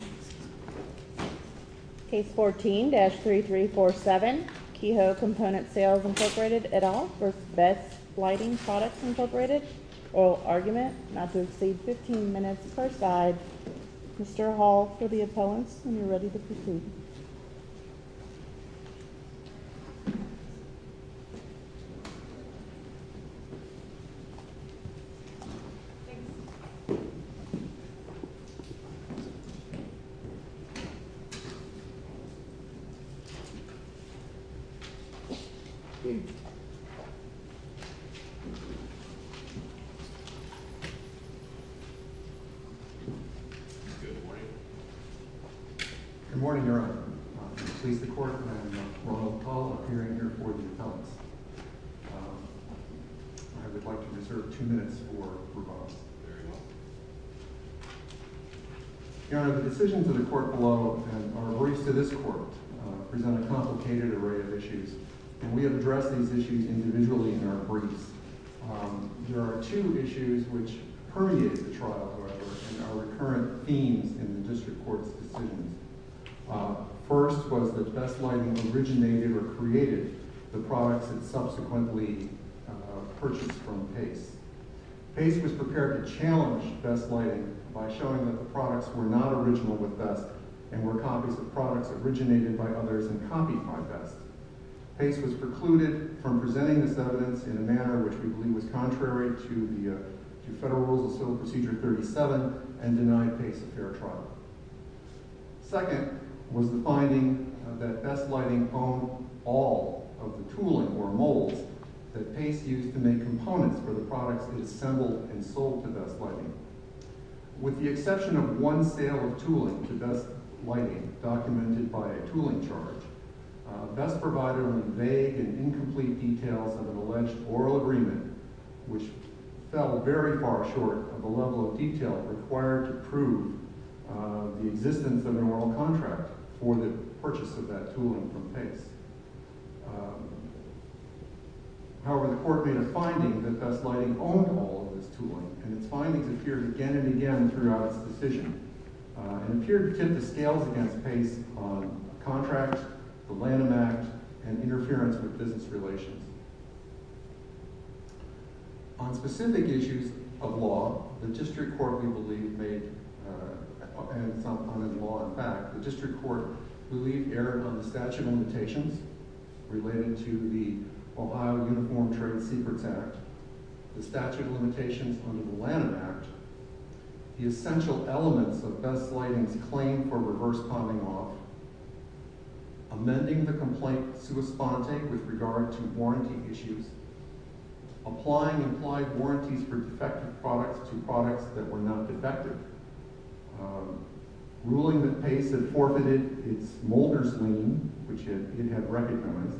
Case 14-3347 Kehoe Component Sales Inc v. Best Lighting Products Inc Oil argument not to exceed 15 minutes per side. Mr. Hall for the appellants when you're ready to proceed. Good morning, Your Honor. I'm pleased to court, and we'll all appear in here for the appellants. I would like to reserve two minutes for rebuttals. Very well. Your Honor, the decisions of the court below and our briefs to this court present a complicated array of issues, and we have addressed these issues individually in our briefs. There are two issues which permeated the trial, however, and are recurrent themes in the district court's decisions. First was that Best Lighting originated or created the products it subsequently purchased from Pace. Pace was prepared to challenge Best Lighting by showing that the products were not original with Best and were copies of products originated by others and copied by Best. Pace was precluded from presenting this evidence in a manner which we believe was contrary to Federal Rules of Civil Procedure 37 and denied Pace a fair trial. Second was the finding that Best Lighting owned all of the tooling or molds that Pace used to make components for the products it assembled and sold to Best Lighting. With the exception of one sale of tooling to Best Lighting documented by a tooling charge, Best provided only vague and incomplete details of an alleged oral agreement, which fell very far short of the level of detail required to prove the existence of an oral contract for the purchase of that tooling from Pace. However, the court made a finding that Best Lighting owned all of this tooling and its findings appeared again and again throughout its decision and appeared to tip the scales against Pace on contract, the Lanham Act, and interference with business relations. On specific issues of law, the District Court believed erred on the statute of limitations relating to the Ohio Uniform Trade Secrets Act, the statute of limitations under the Lanham Act, the essential elements of Best Lighting's claim for reverse pawning off, amending the complaint sua sponte with regard to warranty issues, applying implied warranties for defective products to products that were not defective, ruling that Pace had forfeited its molders lien, which it had recognized,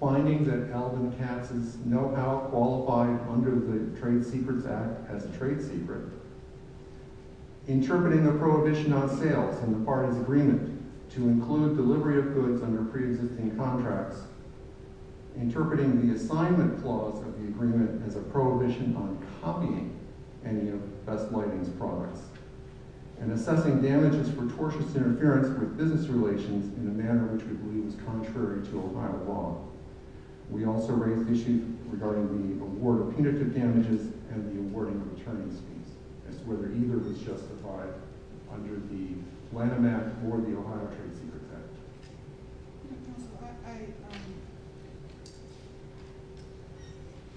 finding that Alvin Katz's know-how qualified under the Trade Secrets Act as trade secret, interpreting a prohibition on sales in the party's agreement to include delivery of goods under pre-existing contracts, interpreting the assignment clause of the agreement as a prohibition on copying any of Best Lighting's products, and assessing damages for tortious interference with business relations in a manner which we believe is contrary to Ohio law. We also raised issues regarding the award of punitive damages and the awarding of returning fees as to whether either was justified under the Lanham Act or the Ohio Trade Secrets Act.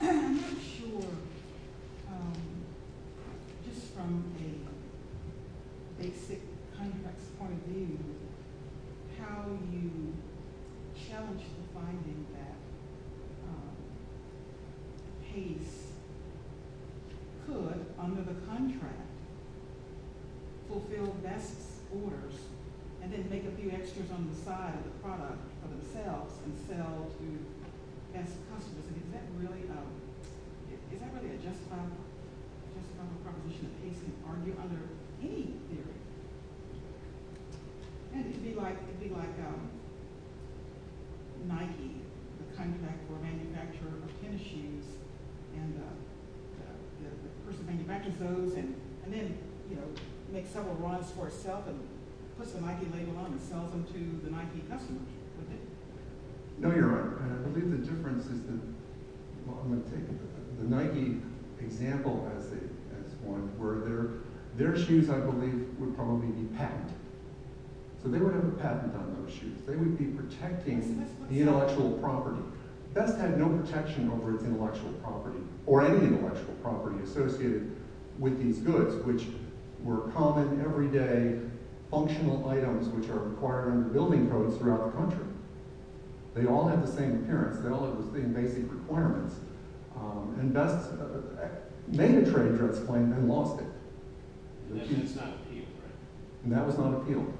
I'm not sure, just from a basic contracts point of view, how you challenge the finding that Pace could, under the contract, fulfill Best's orders and then make a few extras on the side of the product for themselves and sell to Best customers. Is that really a justifiable proposition that Pace can argue under any theory? It would be like Nike, the contractor or manufacturer of tennis shoes. The person manufactures those and then makes several runs for itself and puts the Nike label on and sells them to the Nike customer. No, you're right. I believe the difference is that, well, I'm going to take the Nike example as one, where their shoes, I believe, would probably be patented. So they would have a patent on those shoes. They would be protecting the intellectual property. Best had no protection over its intellectual property or any intellectual property associated with these goods, which were common, everyday, functional items which are required under building codes throughout the country. They all had the same appearance. They all had the same basic requirements. And Best made a trade threats claim and lost it. And that was not appealed, right? And that was not appealed.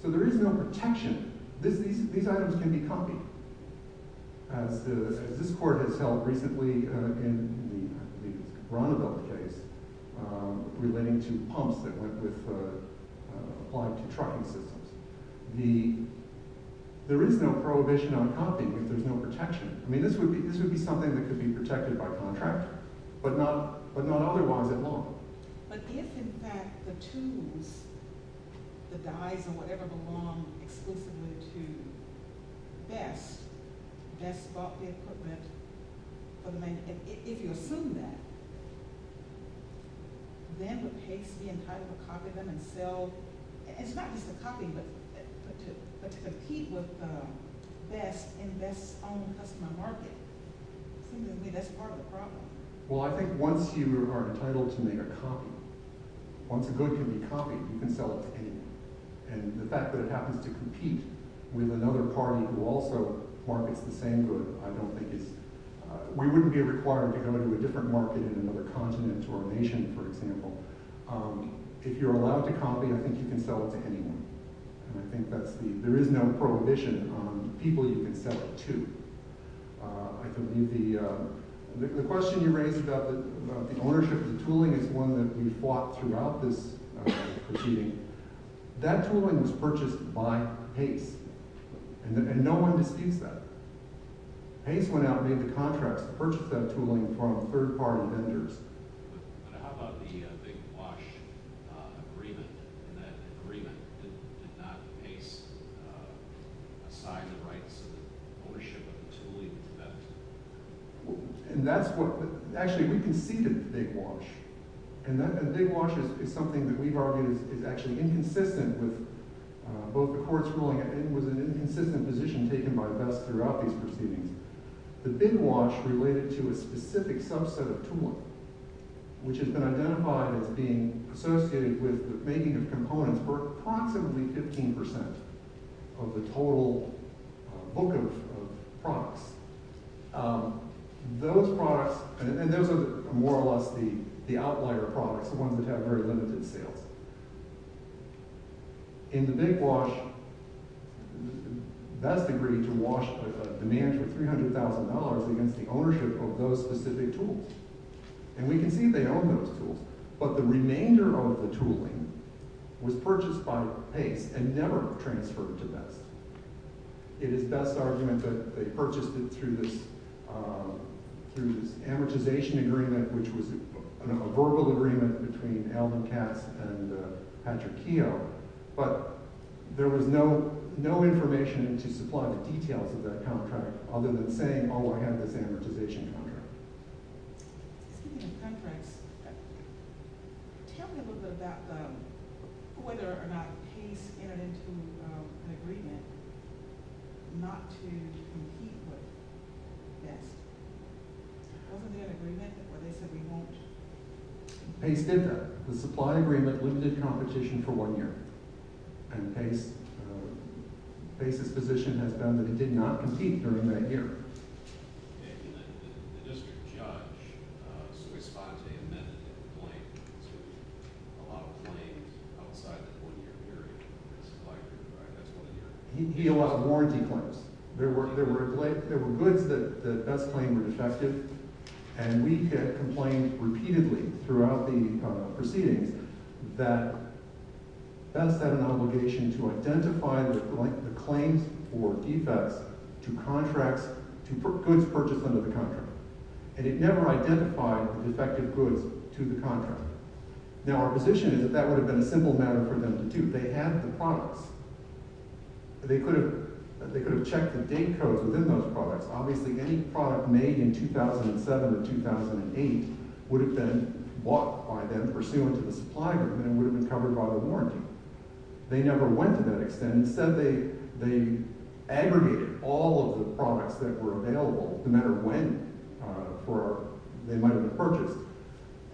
So there is no protection. These items can be copied. As this court has held recently in the Ronnevelt case relating to pumps that went with, applied to trucking systems. There is no prohibition on copying if there's no protection. I mean, this would be something that could be protected by contract, but not otherwise at law. But if, in fact, the tubes, the dyes, or whatever, belong exclusively to Best, Best bought the equipment. If you assume that, then the case being entitled to copy them and sell. It's not just a copy, but to compete with Best in Best's own customer market. It seems to me that's part of the problem. Well, I think once you are entitled to make a copy, once a good can be copied, you can sell it to anyone. And the fact that it happens to compete with another party who also markets the same good, I don't think is... We wouldn't be required to go to a different market in another continent or nation, for example. If you're allowed to copy, I think you can sell it to anyone. And I think that's the... there is no prohibition on people you can sell it to. The question you raised about the ownership of the tooling is one that we fought throughout this proceeding. That tooling was purchased by Pace, and no one disputes that. Pace went out and made the contracts to purchase that tooling from third-party vendors. But how about the Big Wash agreement? And that agreement did not Pace assign the rights and ownership of the tooling to Best? And that's what... actually, we conceded to Big Wash. And Big Wash is something that we've argued is actually inconsistent with both the court's ruling. It was an inconsistent position taken by Best throughout these proceedings. The Big Wash related to a specific subset of tooling, which has been identified as being associated with the making of components for approximately 15% of the total book of products. Those products... and those are more or less the outlier products, the ones that have very limited sales. In the Big Wash, Best agreed to wash with a demand for $300,000 against the ownership of those specific tools. And we can see they own those tools. But the remainder of the tooling was purchased by Pace and never transferred to Best. It is Best's argument that they purchased it through this amortization agreement, which was a verbal agreement between Alan Katz and Patrick Keogh. But there was no information to supply the details of that contract, other than saying, oh, I have this amortization contract. Excuse me, in conference, tell me a little bit about whether or not Pace entered into an agreement not to compete with Best. Wasn't there an agreement where they said we won't? Pace did that. The supply agreement limited competition for one year. And Pace's position has been that he did not compete during that year. And the district judge, Swiss-Fonte, amended the claim to allow claims outside the one-year period of the supply agreement, right? He allowed warranty claims. There were goods that Best claimed were defective. And we had complained repeatedly throughout the proceedings that Best had an obligation to identify the claims or defects to goods purchased under the contract. And it never identified the defective goods to the contract. Now, our position is that that would have been a simple matter for them to do. They had the products. They could have checked the date codes within those products. Obviously, any product made in 2007 and 2008 would have been bought by them, pursuant to the supply agreement, and would have been covered by the warranty. They never went to that extent. Instead, they aggregated all of the products that were available, no matter when they might have been purchased,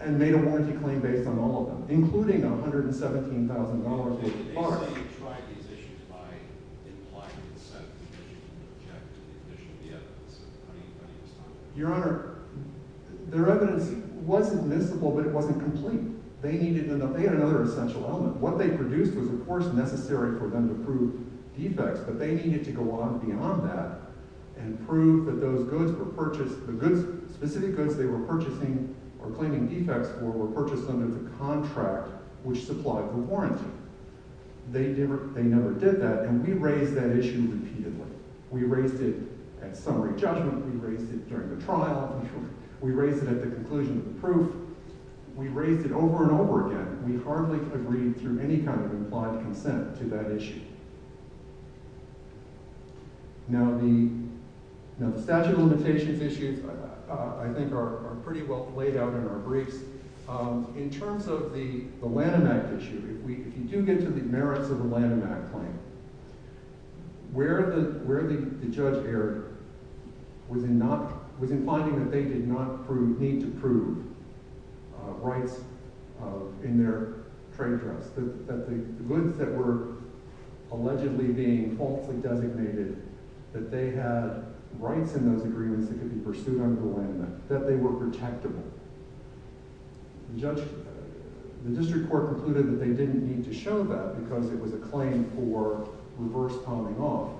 and made a warranty claim based on all of them, including $117,000 worth of products. So how do you try these issues by implying and setting the condition and object to the condition of the evidence? How do you stop it? Your Honor, their evidence wasn't miscible, but it wasn't complete. They needed another – they had another essential element. What they produced was, of course, necessary for them to prove defects, but they needed to go on beyond that and prove that those goods were purchased – those specific goods they were purchasing or claiming defects for were purchased under the contract which supplied the warranty. They never did that, and we raised that issue repeatedly. We raised it at summary judgment. We raised it during the trial. We raised it at the conclusion of the proof. We raised it over and over again. We hardly agreed through any kind of implied consent to that issue. Now the statute of limitations issues, I think, are pretty well laid out in our briefs. In terms of the Lanham Act issue, if you do get to the merits of the Lanham Act claim, where the judge erred was in not – was in finding that they did not need to prove rights in their trade trust. That the goods that were allegedly being falsely designated, that they had rights in those agreements that could be pursued under the Lanham Act, that they were protectable. The judge – the district court concluded that they didn't need to show that because it was a claim for reverse piling off.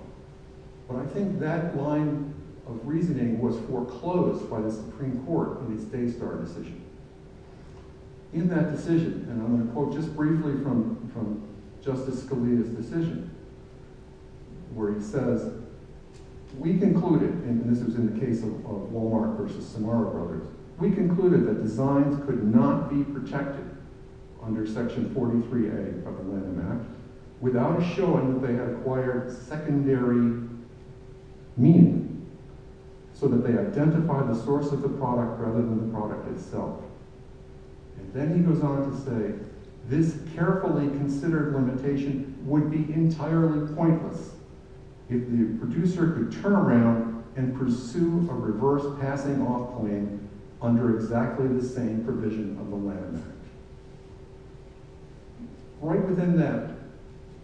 But I think that line of reasoning was foreclosed by the Supreme Court in its Daystar decision. In that decision, and I'm going to quote just briefly from Justice Scalia's decision, where he says, We concluded, and this was in the case of Wal-Mart versus Samara Brothers, We concluded that designs could not be protected under Section 43A of the Lanham Act without showing that they had acquired secondary meaning. So that they identify the source of the product rather than the product itself. And then he goes on to say, This carefully considered limitation would be entirely pointless if the producer could turn around and pursue a reverse passing off claim under exactly the same provision of the Lanham Act. Right within that,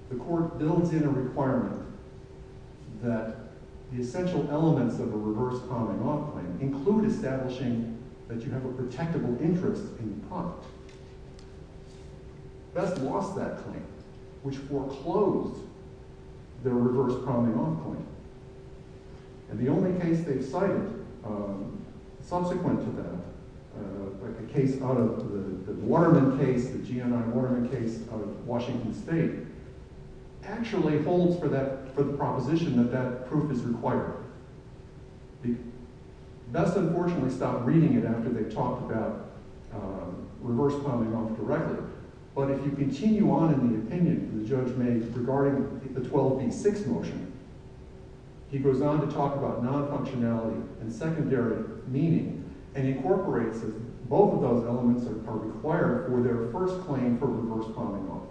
the court builds in a requirement that the essential elements of a reverse piling off claim include establishing that you have a protectable interest in the product. Best lost that claim, which foreclosed their reverse piling off claim. And the only case they've cited subsequent to that, the Waterman case, the GNI Waterman case out of Washington State, actually holds for the proposition that that proof is required. Best, unfortunately, stop reading it after they've talked about reverse piling off directly. But if you continue on in the opinion the judge made regarding the 12b-6 motion, he goes on to talk about non-functionality and secondary meaning and incorporates both of those elements are required for their first claim for reverse piling off.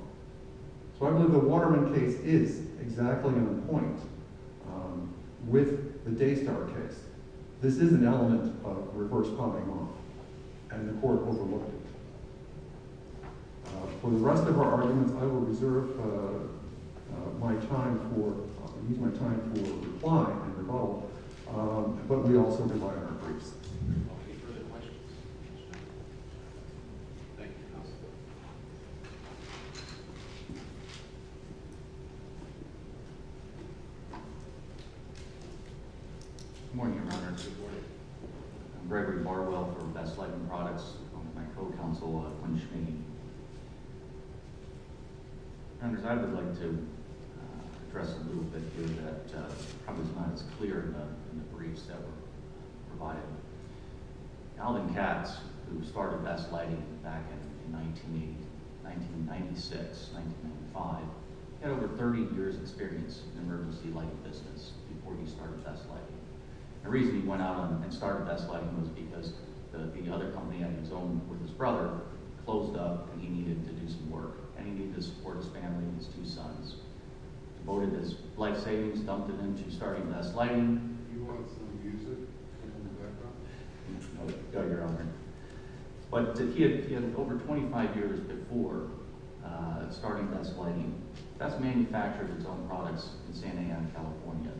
So I believe the Waterman case is exactly on point with the Daystower case. This is an element of reverse piling off, and the court overlooked it. For the rest of our arguments, I will reserve my time for replying and rebuttal, but we also rely on our briefs. Good morning, Your Honor. Good morning. I'm Gregory Barwell from Best Lighting Products, along with my co-counsel, Wen Shimin. Counselors, I would like to address a little bit here that probably is not as clear in the briefs that were provided. Alvin Katz, who started Best Lighting back in 1996, 1995, had over 30 years' experience in emergency lighting business before he started Best Lighting. The reason he went out and started Best Lighting was because the other company on his own with his brother closed up and he needed to do some work, and he needed to support his family and his two sons. He devoted his life savings, dumped it into starting Best Lighting. Do you want some music in the background? No, Your Honor. But he had over 25 years before starting Best Lighting. Katz manufactured his own products in San A.M., California.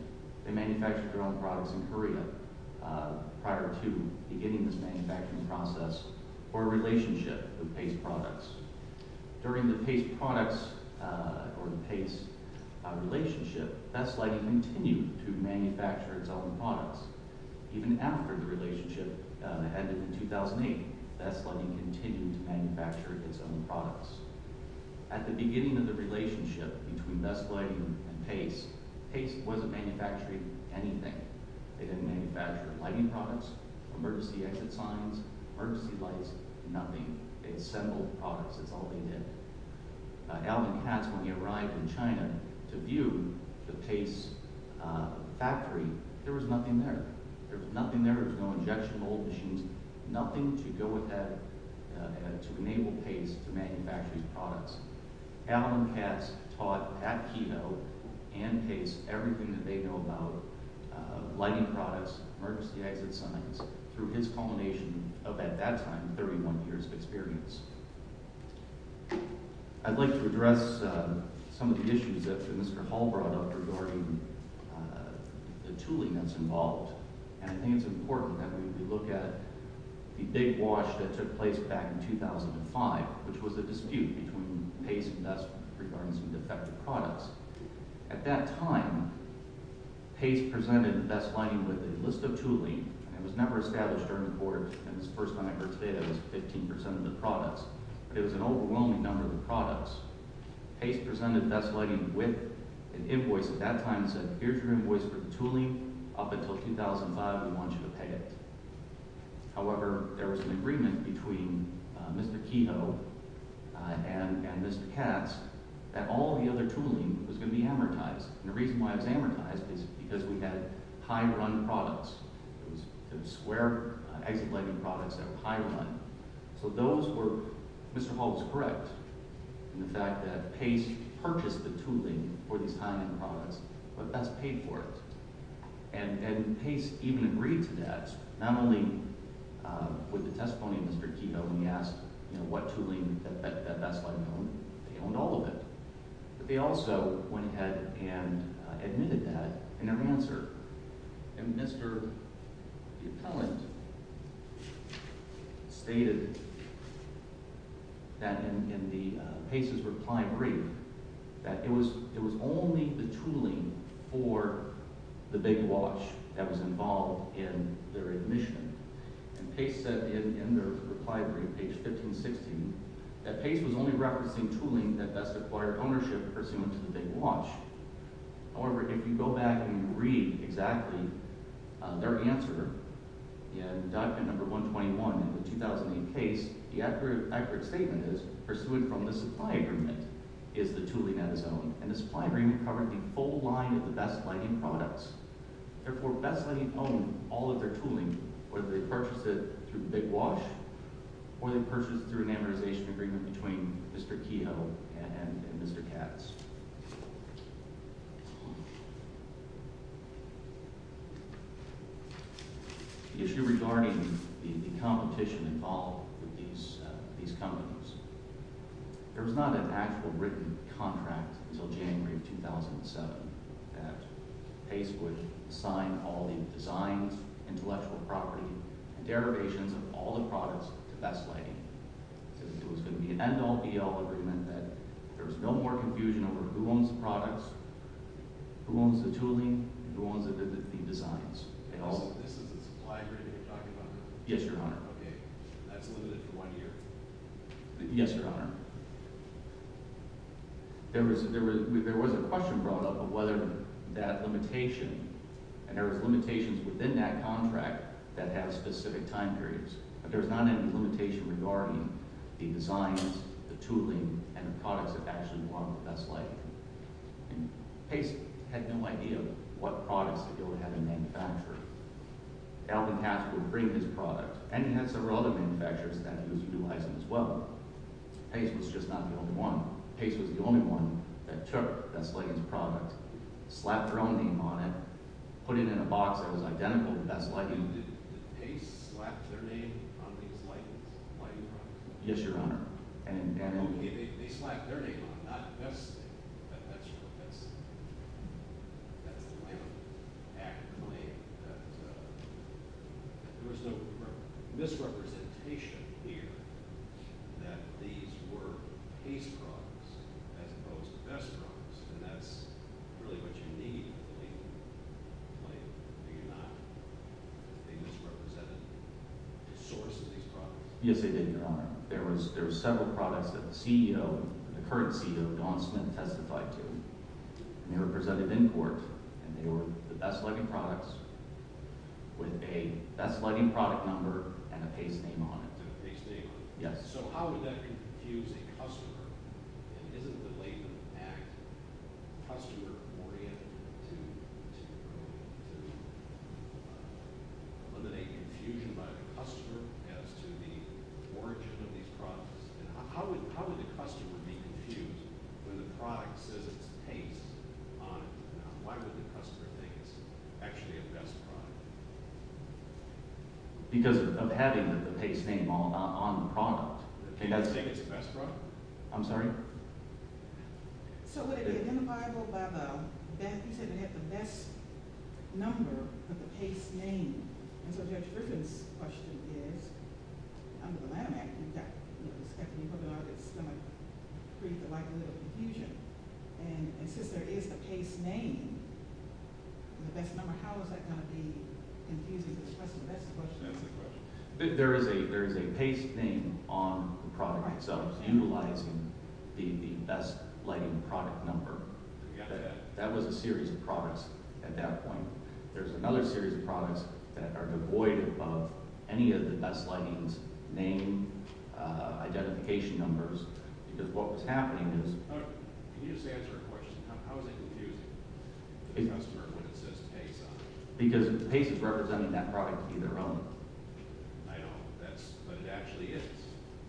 They manufactured their own products in Korea prior to beginning this manufacturing process for a relationship with Pace Products. During the Pace Products or the Pace relationship, Best Lighting continued to manufacture its own products. Even after the relationship ended in 2008, Best Lighting continued to manufacture its own products. At the beginning of the relationship between Best Lighting and Pace, Pace wasn't manufacturing anything. They didn't manufacture lighting products, emergency exit signs, emergency lights, nothing. They assembled products. That's all they did. Alvin Katz, when he arrived in China to view the Pace factory, there was nothing there. There was no injection mold machines, nothing to go with that, to enable Pace to manufacture these products. Alvin Katz taught at Keto and Pace everything that they know about lighting products, emergency exit signs, through his culmination of, at that time, 31 years of experience. I'd like to address some of the issues that Mr. Hall brought up regarding the tooling that's involved. I think it's important that we look at the big wash that took place back in 2005, which was a dispute between Pace and Best regarding some defective products. At that time, Pace presented Best Lighting with a list of tooling. It was never established during the quarter. The first time I heard today, it was 15 percent of the products. It was an overwhelming number of the products. Pace presented Best Lighting with an invoice at that time that said, here's your invoice for the tooling. Up until 2005, we want you to pay it. However, there was an agreement between Mr. Keto and Mr. Katz that all the other tooling was going to be amortized. The reason why it was amortized is because we had high-run products. It was square exit lighting products that were high-run. Mr. Hall was correct in the fact that Pace purchased the tooling for these high-run products, but Best paid for it. Pace even agreed to that, not only with the testimony of Mr. Keto when he asked what tooling Best Lighting owned. They owned all of it. They also went ahead and admitted that in their answer. The appellant stated that in Pace's reply brief that it was only the tooling for the Big Watch that was involved in their admission. Pace said in their reply brief, page 1516, that Pace was only referencing tooling that Best acquired ownership pursuant to the Big Watch. However, if you go back and you read exactly their answer in document number 121 in the 2008 case, the accurate statement is, pursuant from the supply agreement, is the tooling that is owned. The supply agreement covered the full line of the Best Lighting products. Therefore, Best Lighting owned all of their tooling, whether they purchased it through Big Watch or they purchased it through an amortization agreement between Mr. Keto and Mr. Katz. The issue regarding the competition involved with these companies. There was not an actual written contract until January of 2007 that Pace would sign all the designs, intellectual property, and derivations of all the products to Best Lighting. It was going to be an end-all, be-all agreement that there was no more confusion over who owns the products, who owns the tooling, and who owns the designs. Also, this is a supply agreement you're talking about? Yes, Your Honor. Okay. That's limited to one year. Yes, Your Honor. There was a question brought up of whether that limitation, and there was limitations within that contract that had specific time periods. There was not any limitation regarding the designs, the tooling, and the products that actually belonged to Best Lighting. Pace had no idea what products to go ahead and manufacture. Alvin Katz would bring his product, and he had several other manufacturers that he was utilizing as well. Pace was just not the only one. Pace was the only one that took Best Lighting's product, slapped their own name on it, put it in a box that was identical to Best Lighting's. Did Pace slap their name on these Lighting products? Yes, Your Honor. Okay. They slapped their name on them, not Best's name. That's the Lighting Act claim. There was no misrepresentation here that these were Pace products as opposed to Best products, and that's really what you need. Did they misrepresent the source of these products? Yes, they did, Your Honor. There were several products that the current CEO, Don Smith, testified to. They were presented in court, and they were the Best Lighting products with a Best Lighting product number and a Pace name on it. So how would that confuse a customer? Isn't the Lighting Act customer-oriented to eliminate confusion by the customer as to the origin of these products? How would the customer be confused when the product says it's Pace on it? Why would the customer think it's actually a Best product? Because of having the Pace name on the product. They don't think it's a Best product? I'm sorry? So would it be identifiable by the fact that you said it had the Best number with the Pace name? And so Judge Griffin's question is, under the Lighting Act, you've got Stephanie Hogan on it. It's going to create the likelihood of confusion. And since there is the Pace name and the Best number, how is that going to be confusing the customer? That's the question. There is a Pace name on the product itself utilizing the Best Lighting product number. That was a series of products at that point. There's another series of products that are devoid of any of the Best Lighting's name identification numbers because what was happening is— Can you just answer a question? How is that confusing the customer when it says Pace on it? Because Pace is representing that product to be their own. I know, but that's what it actually is.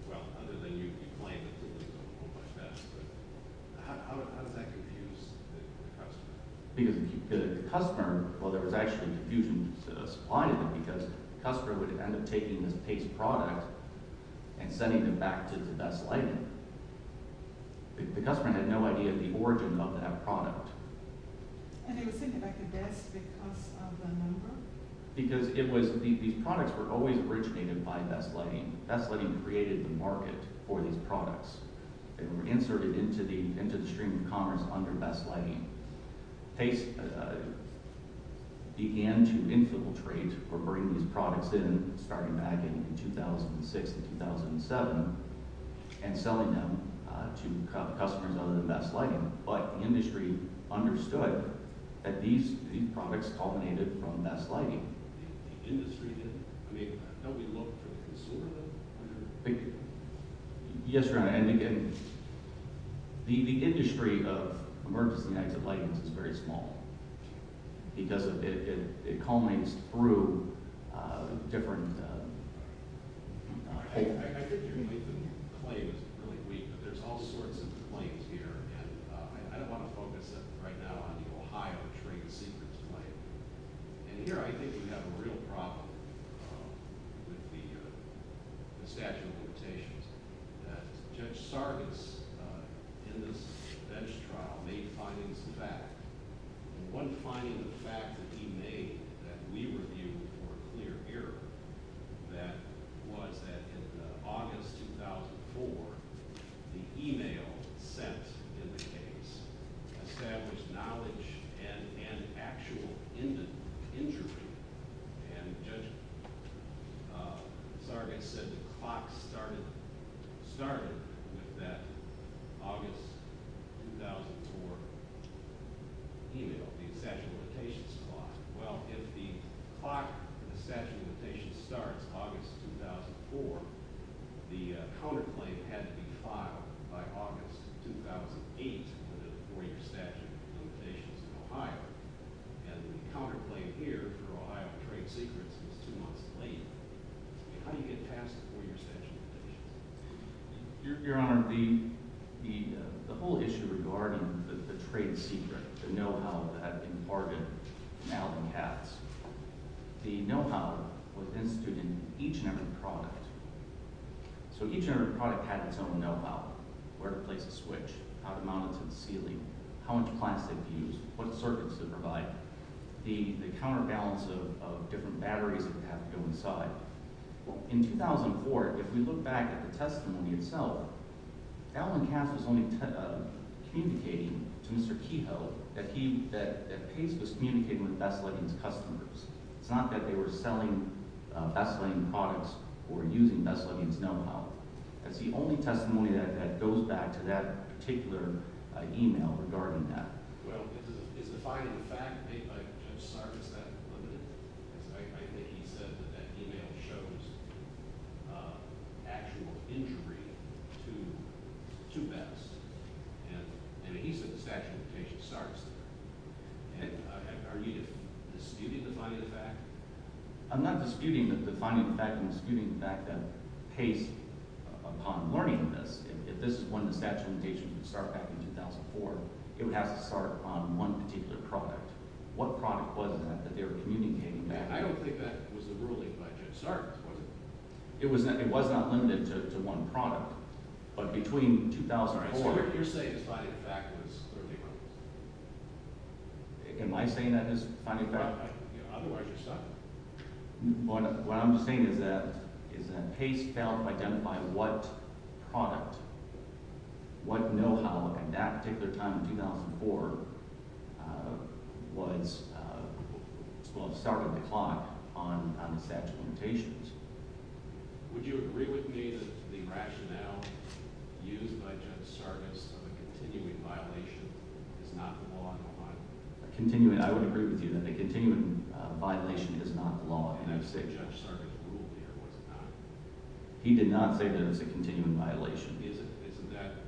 Well, other than you claim it to be their own. How does that confuse the customer? Because the customer—well, there was actually confusion supplying it because the customer would end up taking this Pace product and sending them back to the Best Lighting. The customer had no idea of the origin of that product. And they were sending it back to Best because of the number? Because these products were always originated by Best Lighting. Best Lighting created the market for these products. They were inserted into the stream of commerce under Best Lighting. Pace began to infiltrate or bring these products in starting back in 2006 to 2007 and selling them to customers other than Best Lighting. But the industry understood that these products culminated from Best Lighting. The industry didn't? I mean, don't we look for the consumer then? Yes, and again, the industry of emergency exit lightings is very small because it culminates through different— I think your claim is really weak, but there's all sorts of claims here. And I don't want to focus right now on the Ohio trade secrets claim. And here I think we have a real problem with the statute of limitations that Judge Sargis, in this bench trial, made findings back. One finding, the fact that he made that we were viewing for a clear error, that was that in August 2004, the e-mail sent in the case established knowledge and actual injury. And Judge Sargis said the clock started with that August 2004 e-mail, the statute of limitations clock. Well, if the clock for the statute of limitations starts August 2004, the counterclaim had to be filed by August 2008 with a four-year statute of limitations in Ohio. And the counterclaim here for Ohio trade secrets is two months late. How do you get past the four-year statute of limitations? Your Honor, the whole issue regarding the trade secret, the know-how that had been bargained and now been passed, the know-how was instituted in each and every product. So each and every product had its own know-how, where to place a switch, how to mount it to the ceiling, how much plastic to use, what circuits to provide, the counterbalance of different batteries that would have to go inside. In 2004, if we look back at the testimony itself, Alan Cass was only communicating to Mr. Kehoe that Pace was communicating with Bessleggings customers. It's not that they were selling Bessleggings products or using Bessleggings know-how. That's the only testimony that goes back to that particular e-mail regarding that. Well, it's a finding of fact made by Judge Sargis that limited it. I think he said that that e-mail shows actual injury to Bess. And he said the statute of limitations starts there. Are you disputing the finding of fact? I'm not disputing the finding of fact. I'm disputing the fact that Pace, upon learning this, if this is one of the statute of limitations that started back in 2004, it would have to start on one particular product. What product was that that they were communicating back to? I don't think that was a ruling by Judge Sargis, was it? It was not limited to one product. But between 2004 – All right, so what you're saying is the finding of fact was – Am I saying that is the finding of fact? Otherwise, you're stuck. What I'm saying is that Pace failed to identify what product, what know-how, at that particular time in 2004, was what started the clock on the statute of limitations. Would you agree with me that the rationale used by Judge Sargis of a continuing violation is not the law in Ohio? I would agree with you that a continuing violation is not the law. And I would say Judge Sargis ruled here, was it not? He did not say that it was a continuing violation. Isn't that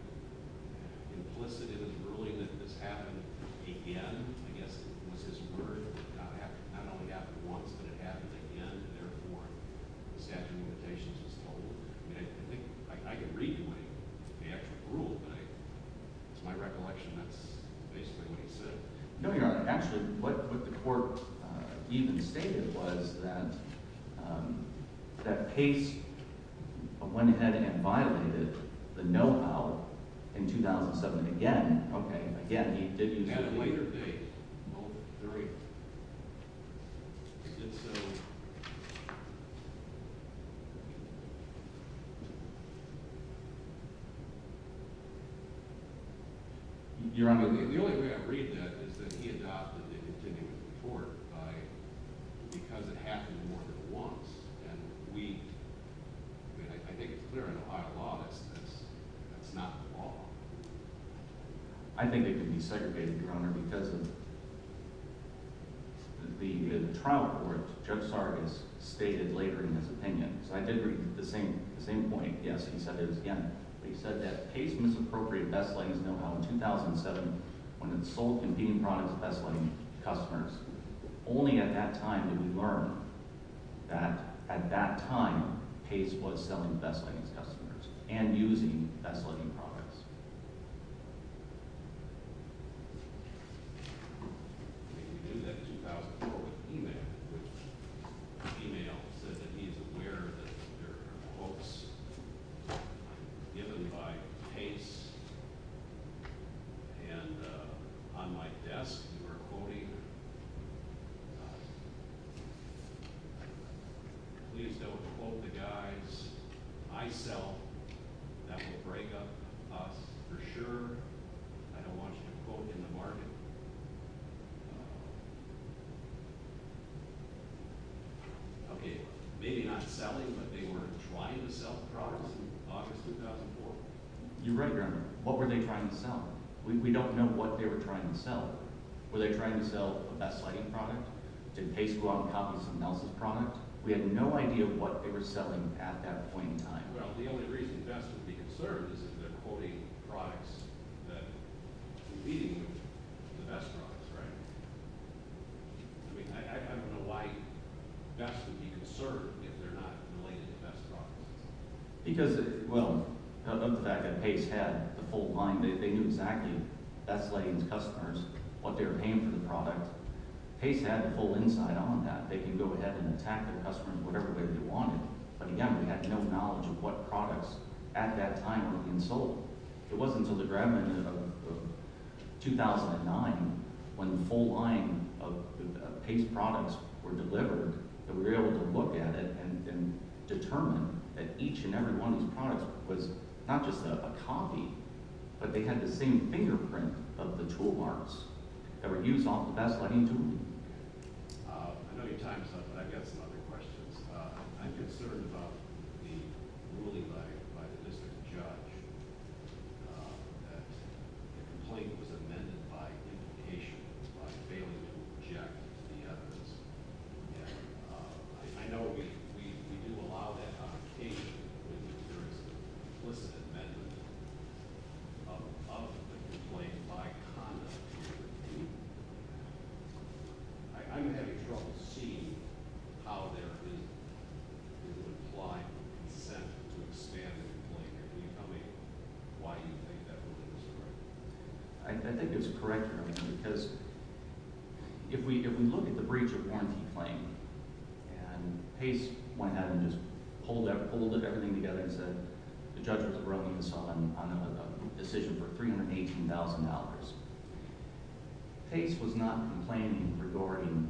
implicit in his ruling that this happened again? I guess it was his word that it not only happened once, but it happened again, and therefore the statute of limitations was told. I can read you what he actually ruled, but it's my recollection that's basically what he said. No, Your Honor. Actually, what the court even stated was that Pace went ahead and violated the know-how in 2007. And again – Okay. Again, he did use it later. He had a later date. Well, very – he did so – Your Honor, the only way I read that is that he adopted the continuing report by – because it happened more than once. And we – I mean, I think it's clear in Ohio law that's not the law. I think it can be segregated, Your Honor, because of the trial report Judge Sargis stated later in his opinion. So I did read the same point. Yes, he said it again. He said that Pace misappropriated best-lettings know-how in 2007 when it sold competing products to best-letting customers. Only at that time did we learn that at that time Pace was selling best-lettings customers and using best-letting products. Okay. We knew that in 2004 with email, which – email said that he's aware that there are quotes given by Pace. And on my desk, we were quoting – Please don't quote the guys. I sell. That will break up us for sure. I don't want you to quote in the market. Okay. Maybe not selling, but they were trying to sell products in August 2004. You're right, Your Honor. What were they trying to sell? We don't know what they were trying to sell. Were they trying to sell a best-letting product? Did Pace go out and copy someone else's product? We had no idea what they were selling at that point in time. Well, the only reason best would be conserved is if they're quoting products that are competing with the best products, right? I mean I don't know why best would be conserved if they're not related to best products. Because – well, not the fact that Pace had the full line. They knew exactly, best-lettings customers, what they were paying for the product. Pace had the full insight on that. They could go ahead and attack their customers whatever way they wanted. But again, we had no knowledge of what products at that time were being sold. It wasn't until the grabment of 2009 when the full line of Pace products were delivered that we were able to look at it and determine that each and every one of these products was not just a copy, but they had the same fingerprint of the tool marks that were used on the best-letting tool. I know your time is up, but I've got some other questions. I'm concerned about the ruling by the district judge that the complaint was amended by implication, by failing to object to the evidence. I know we do allow that on occasion when there is an implicit amendment of the complaint by conduct. I'm having trouble seeing how there is an implied consent to expand the complaint. Can you tell me why you think that ruling is correct? I think it's correct, because if we look at the breach of warranty claim, and Pace went ahead and just pulled everything together and said the judge was wrong on a decision for $318,000. Pace was not complaining regarding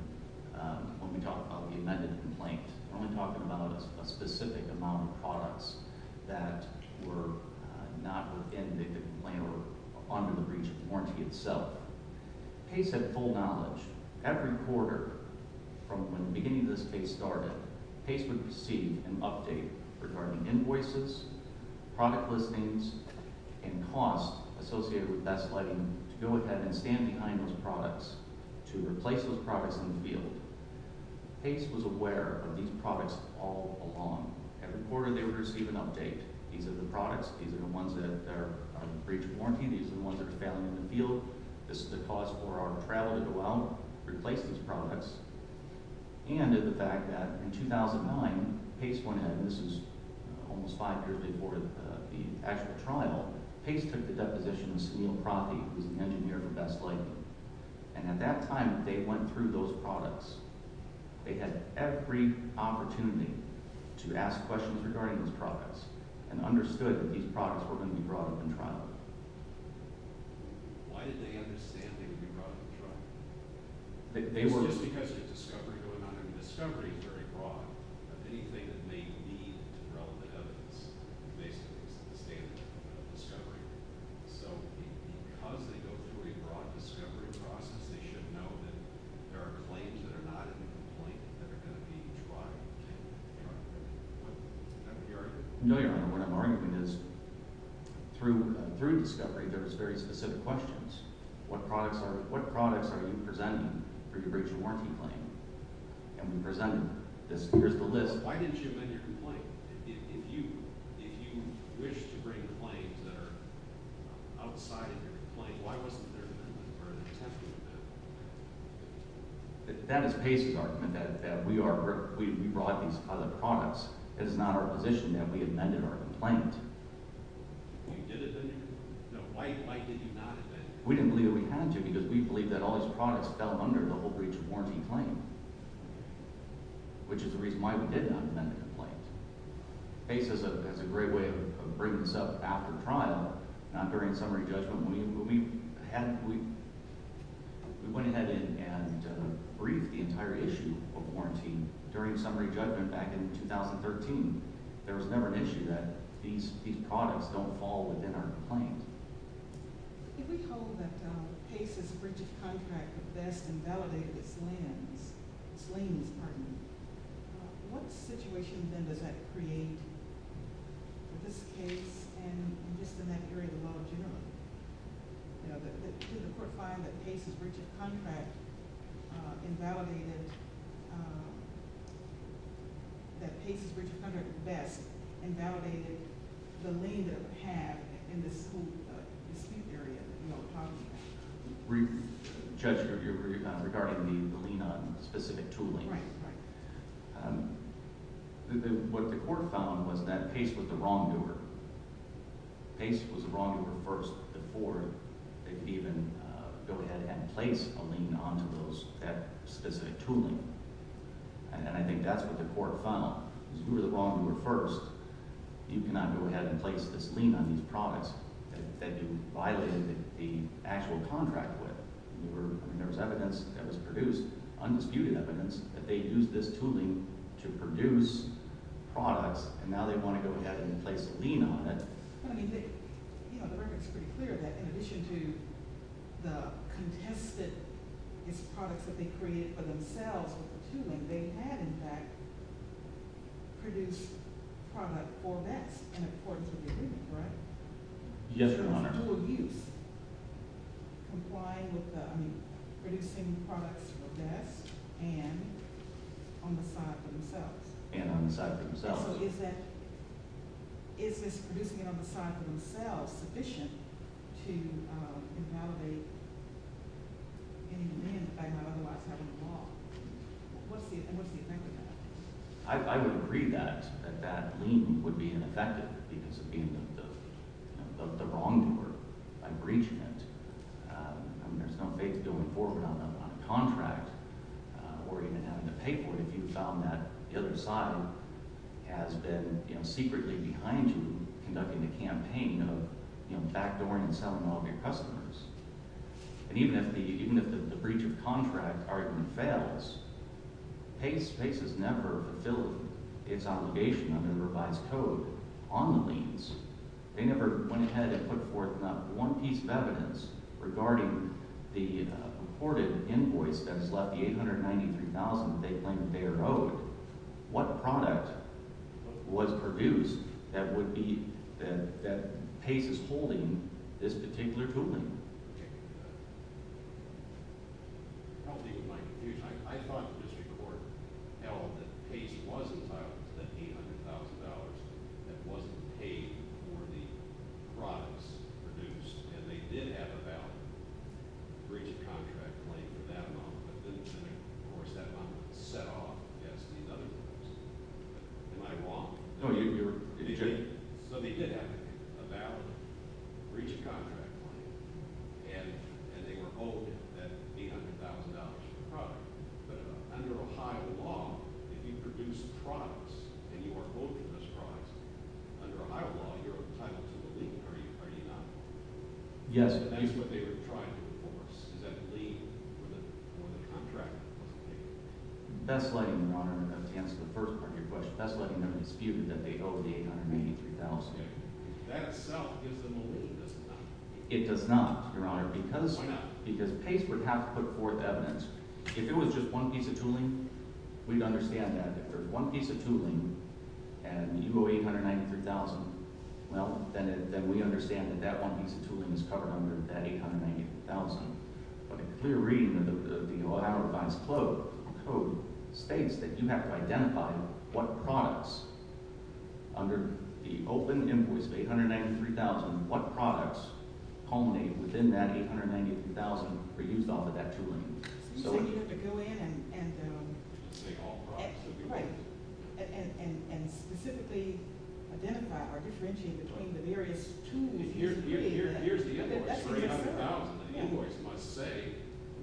when we talk about the amended complaint. We're only talking about a specific amount of products that were not within the complaint or under the breach of warranty itself. Pace had full knowledge. Every quarter from when the beginning of this case started, Pace would receive an update regarding invoices, product listings, and costs associated with best-letting to go ahead and stand behind those products to replace those products in the field. Pace was aware of these products all along. Every quarter, they would receive an update. These are the products. These are the ones that are under the breach of warranty. These are the ones that are failing in the field. This is the cost for our travel to go out and replace these products. And the fact that in 2009, Pace went ahead, and this was almost five years before the actual trial, Pace took the deposition of Sunil Prathi, who was the engineer for best-letting. And at that time, they went through those products. They had every opportunity to ask questions regarding those products and understood that these products were going to be brought up in trial. Why did they understand they would be brought up in trial? It's just because there's discovery going on. I mean, discovery is very broad of anything that may lead to relevant evidence. Basically, it's the standard of discovery. So because they go through a broad discovery process, they should know that there are claims that are not in the complaint that are going to be tried in trial. Is that what you're arguing? No, Your Honor. What I'm arguing is through discovery, there was very specific questions. What products are you presenting for your breach of warranty claim? And we presented this. Here's the list. Why didn't you amend your complaint? If you wish to bring claims that are outside of your complaint, why wasn't there an amendment or an attempt to do that? That is Pace's argument, that we brought these other products. It is not our position that we amended our complaint. You did it, didn't you? No. Why did you not amend it? We didn't believe that we had to because we believed that all these products fell under the whole breach of warranty claim, which is the reason why we did not amend the complaint. Pace has a great way of bringing this up after trial, not during summary judgment. When we went ahead and briefed the entire issue of warranty during summary judgment back in 2013, there was never an issue that these products don't fall within our complaint. If we hold that Pace's breach of contract best invalidated its lands, its lands, pardon me, what situation then does that create for this case and just in that area of the law generally? Did the court find that Pace's breach of contract invalidated, that Pace's breach of contract best invalidated the land that it had in the dispute area? Judge, you're regarding the lien on specific tooling. Right. What the court found was that Pace was the wrongdoer. Pace was the wrongdoer first before they could even go ahead and place a lien onto that specific tooling, and I think that's what the court found. If you were the wrongdoer first, you cannot go ahead and place this lien on these products that you violated the actual contract with. There was evidence that was produced, undisputed evidence, that they used this tooling to produce products, and now they want to go ahead and place a lien on it. But, I mean, you know, the record is pretty clear that in addition to the contested products that they created for themselves with the tooling, they had, in fact, produced product for BESS in accordance with the agreement, right? Yes, Your Honor. So there's no abuse complying with the, I mean, producing products for BESS and on the side for themselves. And on the side for themselves. So is this producing it on the side for themselves sufficient to invalidate any demand that they might otherwise have on the law? And what's the effect of that? I would agree that that lien would be ineffective because of being the wrongdoer by breaching it. I mean, there's no faith going forward on a contract or even having to pay for it if you found that the other side has been, you know, secretly behind you conducting the campaign of, you know, backdooring and selling all of your customers. And even if the breach of contract argument fails, PACE has never fulfilled its obligation under the revised code on the liens. They never went ahead and put forth not one piece of evidence regarding the reported invoice that has left the $893,000 that they claim that they are owed. What product was produced that would be – that PACE is holding this particular tool in? Okay. I'll leave it to my confusion. I thought the district court held that PACE was entitled to that $800,000 that wasn't paid for the products produced. And they did have a valid breach of contract claim for that amount, but then, of course, that amount was set off against these other products. Am I wrong? No, you're – So they did have a valid breach of contract claim, and they were owed that $800,000 for the product. But under Ohio law, if you produce products and you are owed those products, under Ohio law, you're entitled to the lien. Are you not? Yes. And that's what they were trying to enforce. Is that a lien for the contract that wasn't paid? That's likely, Your Honor, to answer the first part of your question. That's likely never disputed that they owe the $893,000. Okay. That itself gives them a lien, does it not? It does not, Your Honor, because – Why not? Because PACE would have to put forth evidence. If it was just one piece of tooling, we'd understand that. If there's one piece of tooling and you owe $893,000, well, then we understand that that one piece of tooling is covered under that $893,000. But a clear reading of the Ohio revised code states that you have to identify what products under the open invoice of $893,000, what products culminate within that $893,000 were used off of that tooling. So you have to go in and – Say all products. Right. And specifically identify or differentiate between the various tools. Here's the invoice for $800,000. The invoice must say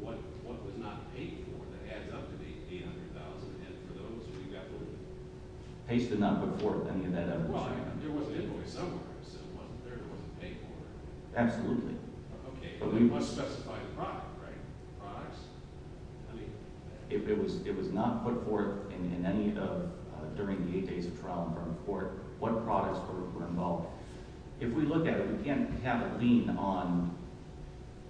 what was not paid for. That adds up to be $800,000. And for those, you've got to – PACE did not put forth any of that evidence. Well, there was an invoice somewhere that said there was a pay for it. Absolutely. Okay. But we must specify the product, right? The products? I mean – If it was not put forth in any of – during the eight days of trial in front of court, what products were involved. If we look at it, we can't have a lien on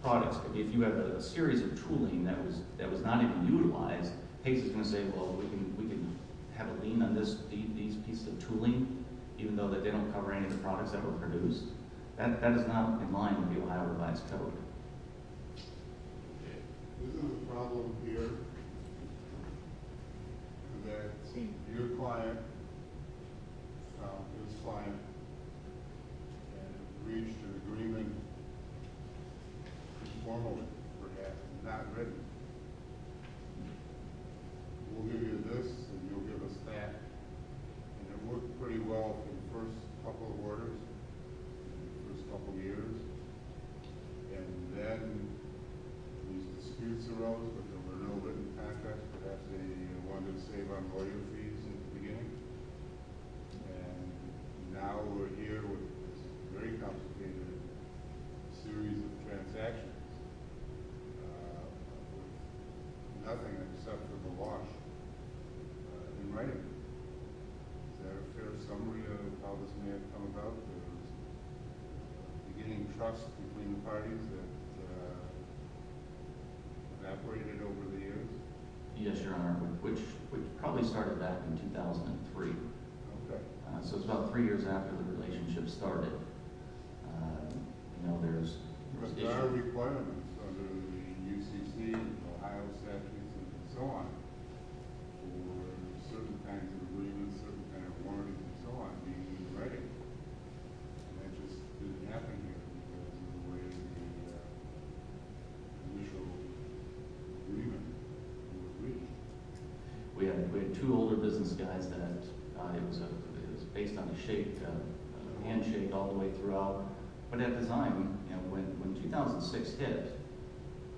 products. If you have a series of tooling that was not even utilized, PACE is going to say, well, we can have a lien on these pieces of tooling, even though they don't cover any of the products that were produced. That is not in line with the Ohio revised code. Okay. This is a problem here that your client – this client – had reached an agreement, formally perhaps, not written. We'll give you this and you'll give us that. And it worked pretty well in the first couple of orders, in the first couple of years. And then these disputes arose, but there were no written contracts. Perhaps they wanted to save on order fees at the beginning. And now we're here with this very complicated series of transactions, nothing except for the wash in writing. Is that a fair summary of how this may have come about? There was beginning trust between the parties that evaporated over the years? Yes, Your Honor, which probably started back in 2003. Okay. So it's about three years after the relationship started. Now there's – But there are requirements under the UCC and Ohio statutes and so on for certain kinds of agreements, certain kinds of warranties and so on, being written. And that just didn't happen here in the way it did in the initial agreement. We had two older business guys that it was based on a handshake all the way throughout. But at the time, when 2006 hit,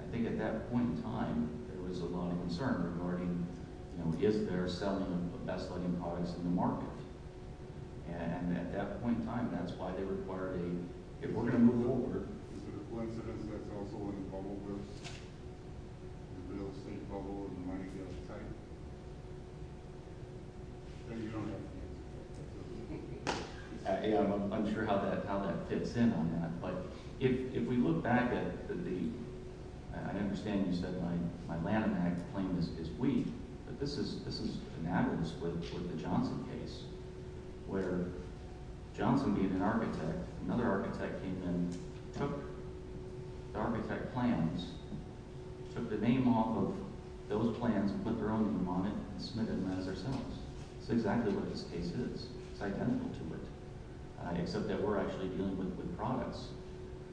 I think at that point in time there was a lot of concern regarding, you know, is there a settlement of best-selling products in the market? And at that point in time, that's why they required a – if we're going to move over. Is there a coincidence that's also in the bubble with the real estate bubble and the money gap type? No, Your Honor. I'm not sure how that fits in on that. But if we look back at the – I understand you said my Lanham Act claim is weak, but this is an avarice with the Johnson case, where Johnson being an architect, another architect came in, took the architect plans, took the name off of those plans, put their own name on it, and submitted them as their sales. That's exactly what this case is. It's identical to it. Except that we're actually dealing with the products.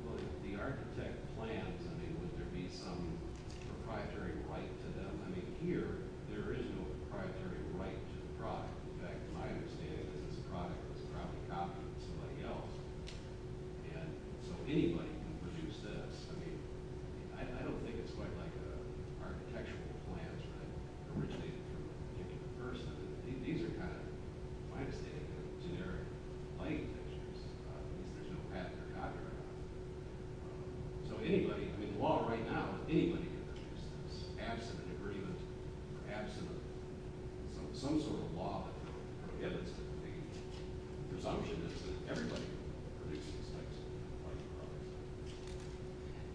Well, the architect plans. I mean, would there be some proprietary right to them? I mean, here there is no proprietary right to the product. In fact, my understanding is this product was probably copied from somebody else. And so anybody can produce this. I mean, I don't think it's quite like an architectural plan that originated from a particular person. These are kind of, if I understand it, generic claim textures. There's no patent or copyright. So anybody – I mean, the law right now is anybody can produce this, absent an agreement or absent some sort of law that prohibits it. The presumption is that everybody can produce these types of products.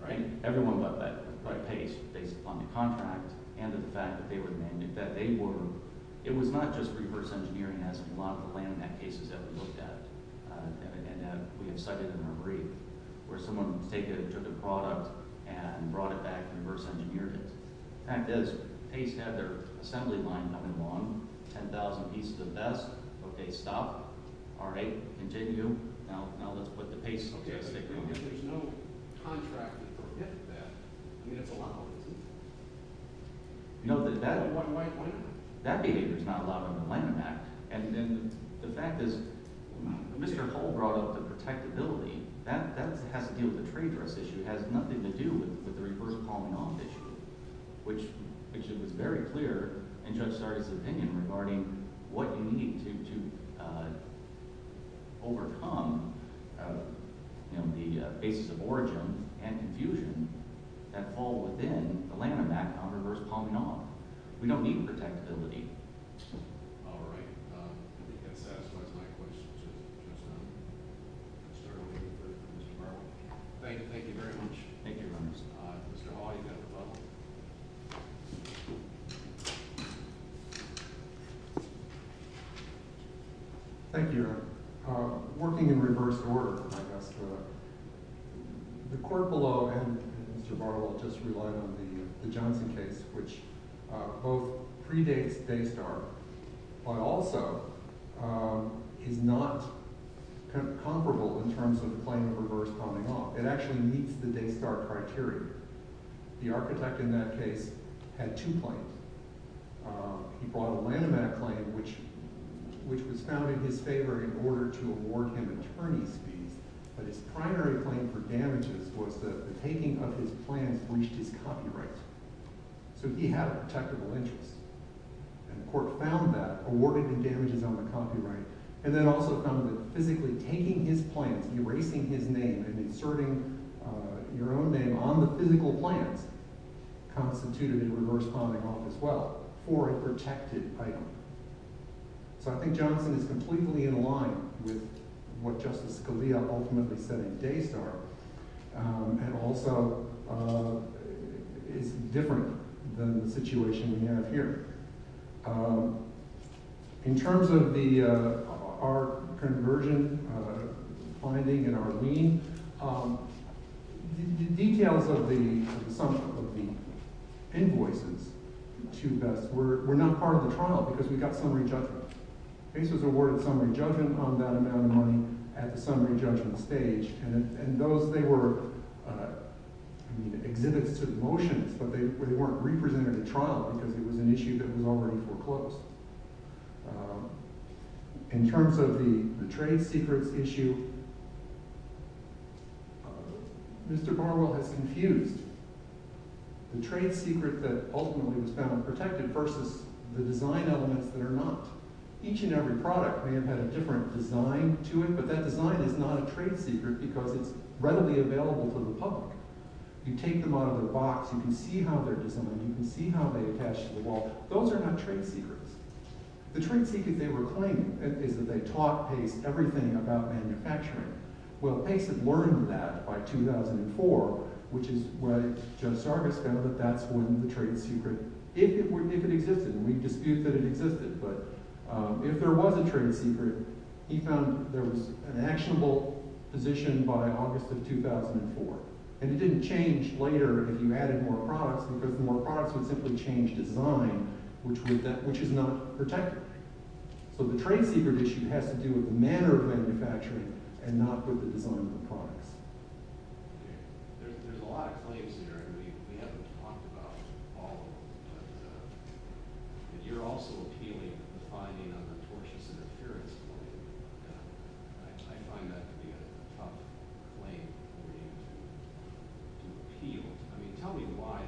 Right? Everyone got that at the right pace based upon the contract and the fact that they were the man who did that. It was not just reverse engineering, as a lot of the landmark cases that we looked at and that we have cited in our brief, where someone took a product and brought it back and reverse engineered it. In fact, as Pace had their assembly line coming along, 10,000 pieces of vests, okay, stop. All right, continue. Now let's put the Pace sticker on it. There's no contract to prohibit that. I mean, it's a law. You know, that behavior is not allowed on the landmark. And then the fact is Mr. Cole brought up the protectability. That has to deal with the trade dress issue. It has nothing to do with the reverse calling on issue, which it was very clear in Judge Sardi's opinion regarding what you need to overcome the basis of origin and confusion that fall within the landmark on reverse calling on. We don't need protectability. All right. I think that satisfies my questions. Judge Sardi. Mr. Barber. Thank you very much. Thank you, Your Honor. Mr. Hall, you've got the phone. Thank you, Your Honor. Working in reverse order, I guess, the court below and Mr. Barber just relied on the Johnson case, which both predates Daystar but also is not comparable in terms of the claim of reverse calling off. It actually meets the Daystar criteria. The architect in that case had two claims. He brought the Lanham Act claim, which was found in his favor in order to award him attorney's fees, but his primary claim for damages was that the taking of his plans breached his copyright. So he had a protectable interest, and the court found that, awarded him damages on the copyright, and then also found that physically taking his plans, erasing his name, and inserting your own name on the physical plans constituted a reverse calling off as well for a protected item. So I think Johnson is completely in line with what Justice Scalia ultimately said in Daystar and also is different than the situation we have here. In terms of our conversion finding and our lien, the details of the sum of the invoices to BESS were not part of the trial because we got summary judgment. BESS was awarded summary judgment on that amount of money at the summary judgment stage. And those, they were exhibits to the motions, but they weren't represented at trial because it was an issue that was already foreclosed. In terms of the trade secrets issue, Mr. Barwell has confused the trade secret that ultimately was found protected versus the design elements that are not. Each and every product may have had a different design to it, but that design is not a trade secret because it's readily available to the public. You take them out of the box, you can see how they're designed, you can see how they attach to the wall. Those are not trade secrets. The trade secret they were claiming is that they taught Pace everything about manufacturing. Well, Pace had learned that by 2004, which is what Judge Sargis found, that that's when the trade secret, if it existed, and we dispute that it existed, but if there was a trade secret, he found there was an actionable position by August of 2004. And it didn't change later if you added more products because the more products would simply change design, which is not protected. So the trade secret issue has to do with the manner of manufacturing and not with the design of the products. There's a lot of claims here, and we haven't talked about all of them, but you're also appealing to the finding of the tortuous interference claim. I find that to be a tough claim for you to appeal. I mean, tell me why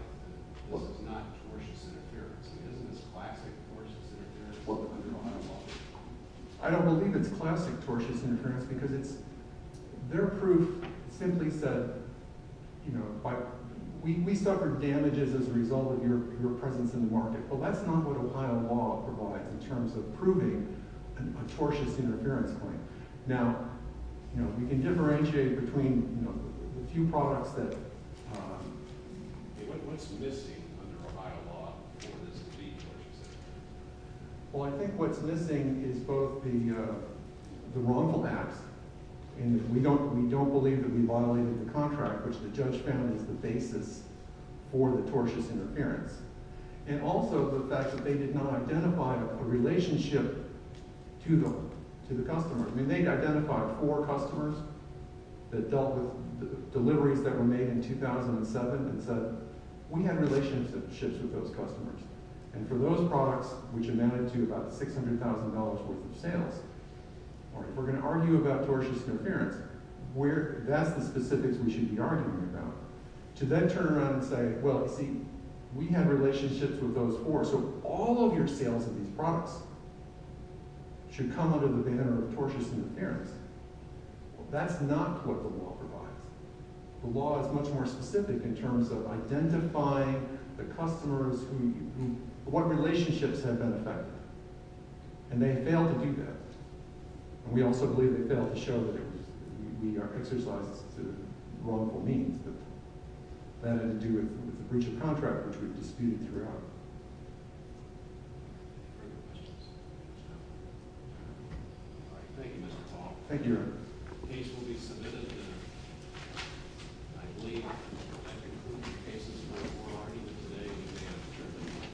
this is not tortuous interference. I mean, isn't this classic tortuous interference under a lot of laws? I don't believe it's classic tortuous interference because their proof simply said, we suffered damages as a result of your presence in the market, but that's not what Ohio law provides in terms of proving a tortuous interference claim. Now, we can differentiate between a few products that... What's missing under Ohio law for this to be tortuous interference? Well, I think what's missing is both the wrongful acts, and we don't believe that we violated the contract, which the judge found is the basis for the tortuous interference, and also the fact that they did not identify a relationship to them, to the customer. I mean, they identified four customers that dealt with deliveries that were made in 2007 and said, we had relationships with those customers, and for those products, which amounted to about $600,000 worth of sales, if we're going to argue about tortuous interference, that's the specifics we should be arguing about. To then turn around and say, well, you see, we had relationships with those four, so all of your sales of these products should come under the banner of tortuous interference. Well, that's not what the law provides. The law is much more specific in terms of identifying the customers who... what relationships have been affected. And they failed to do that. And we also believe they failed to show that we are exercised to wrongful means. But that had to do with the breach of contract, which we've disputed throughout. Any further questions? All right, thank you, Mr. Paul. Thank you, Your Honor. The case will be submitted in, I believe, the case is not before the court either today...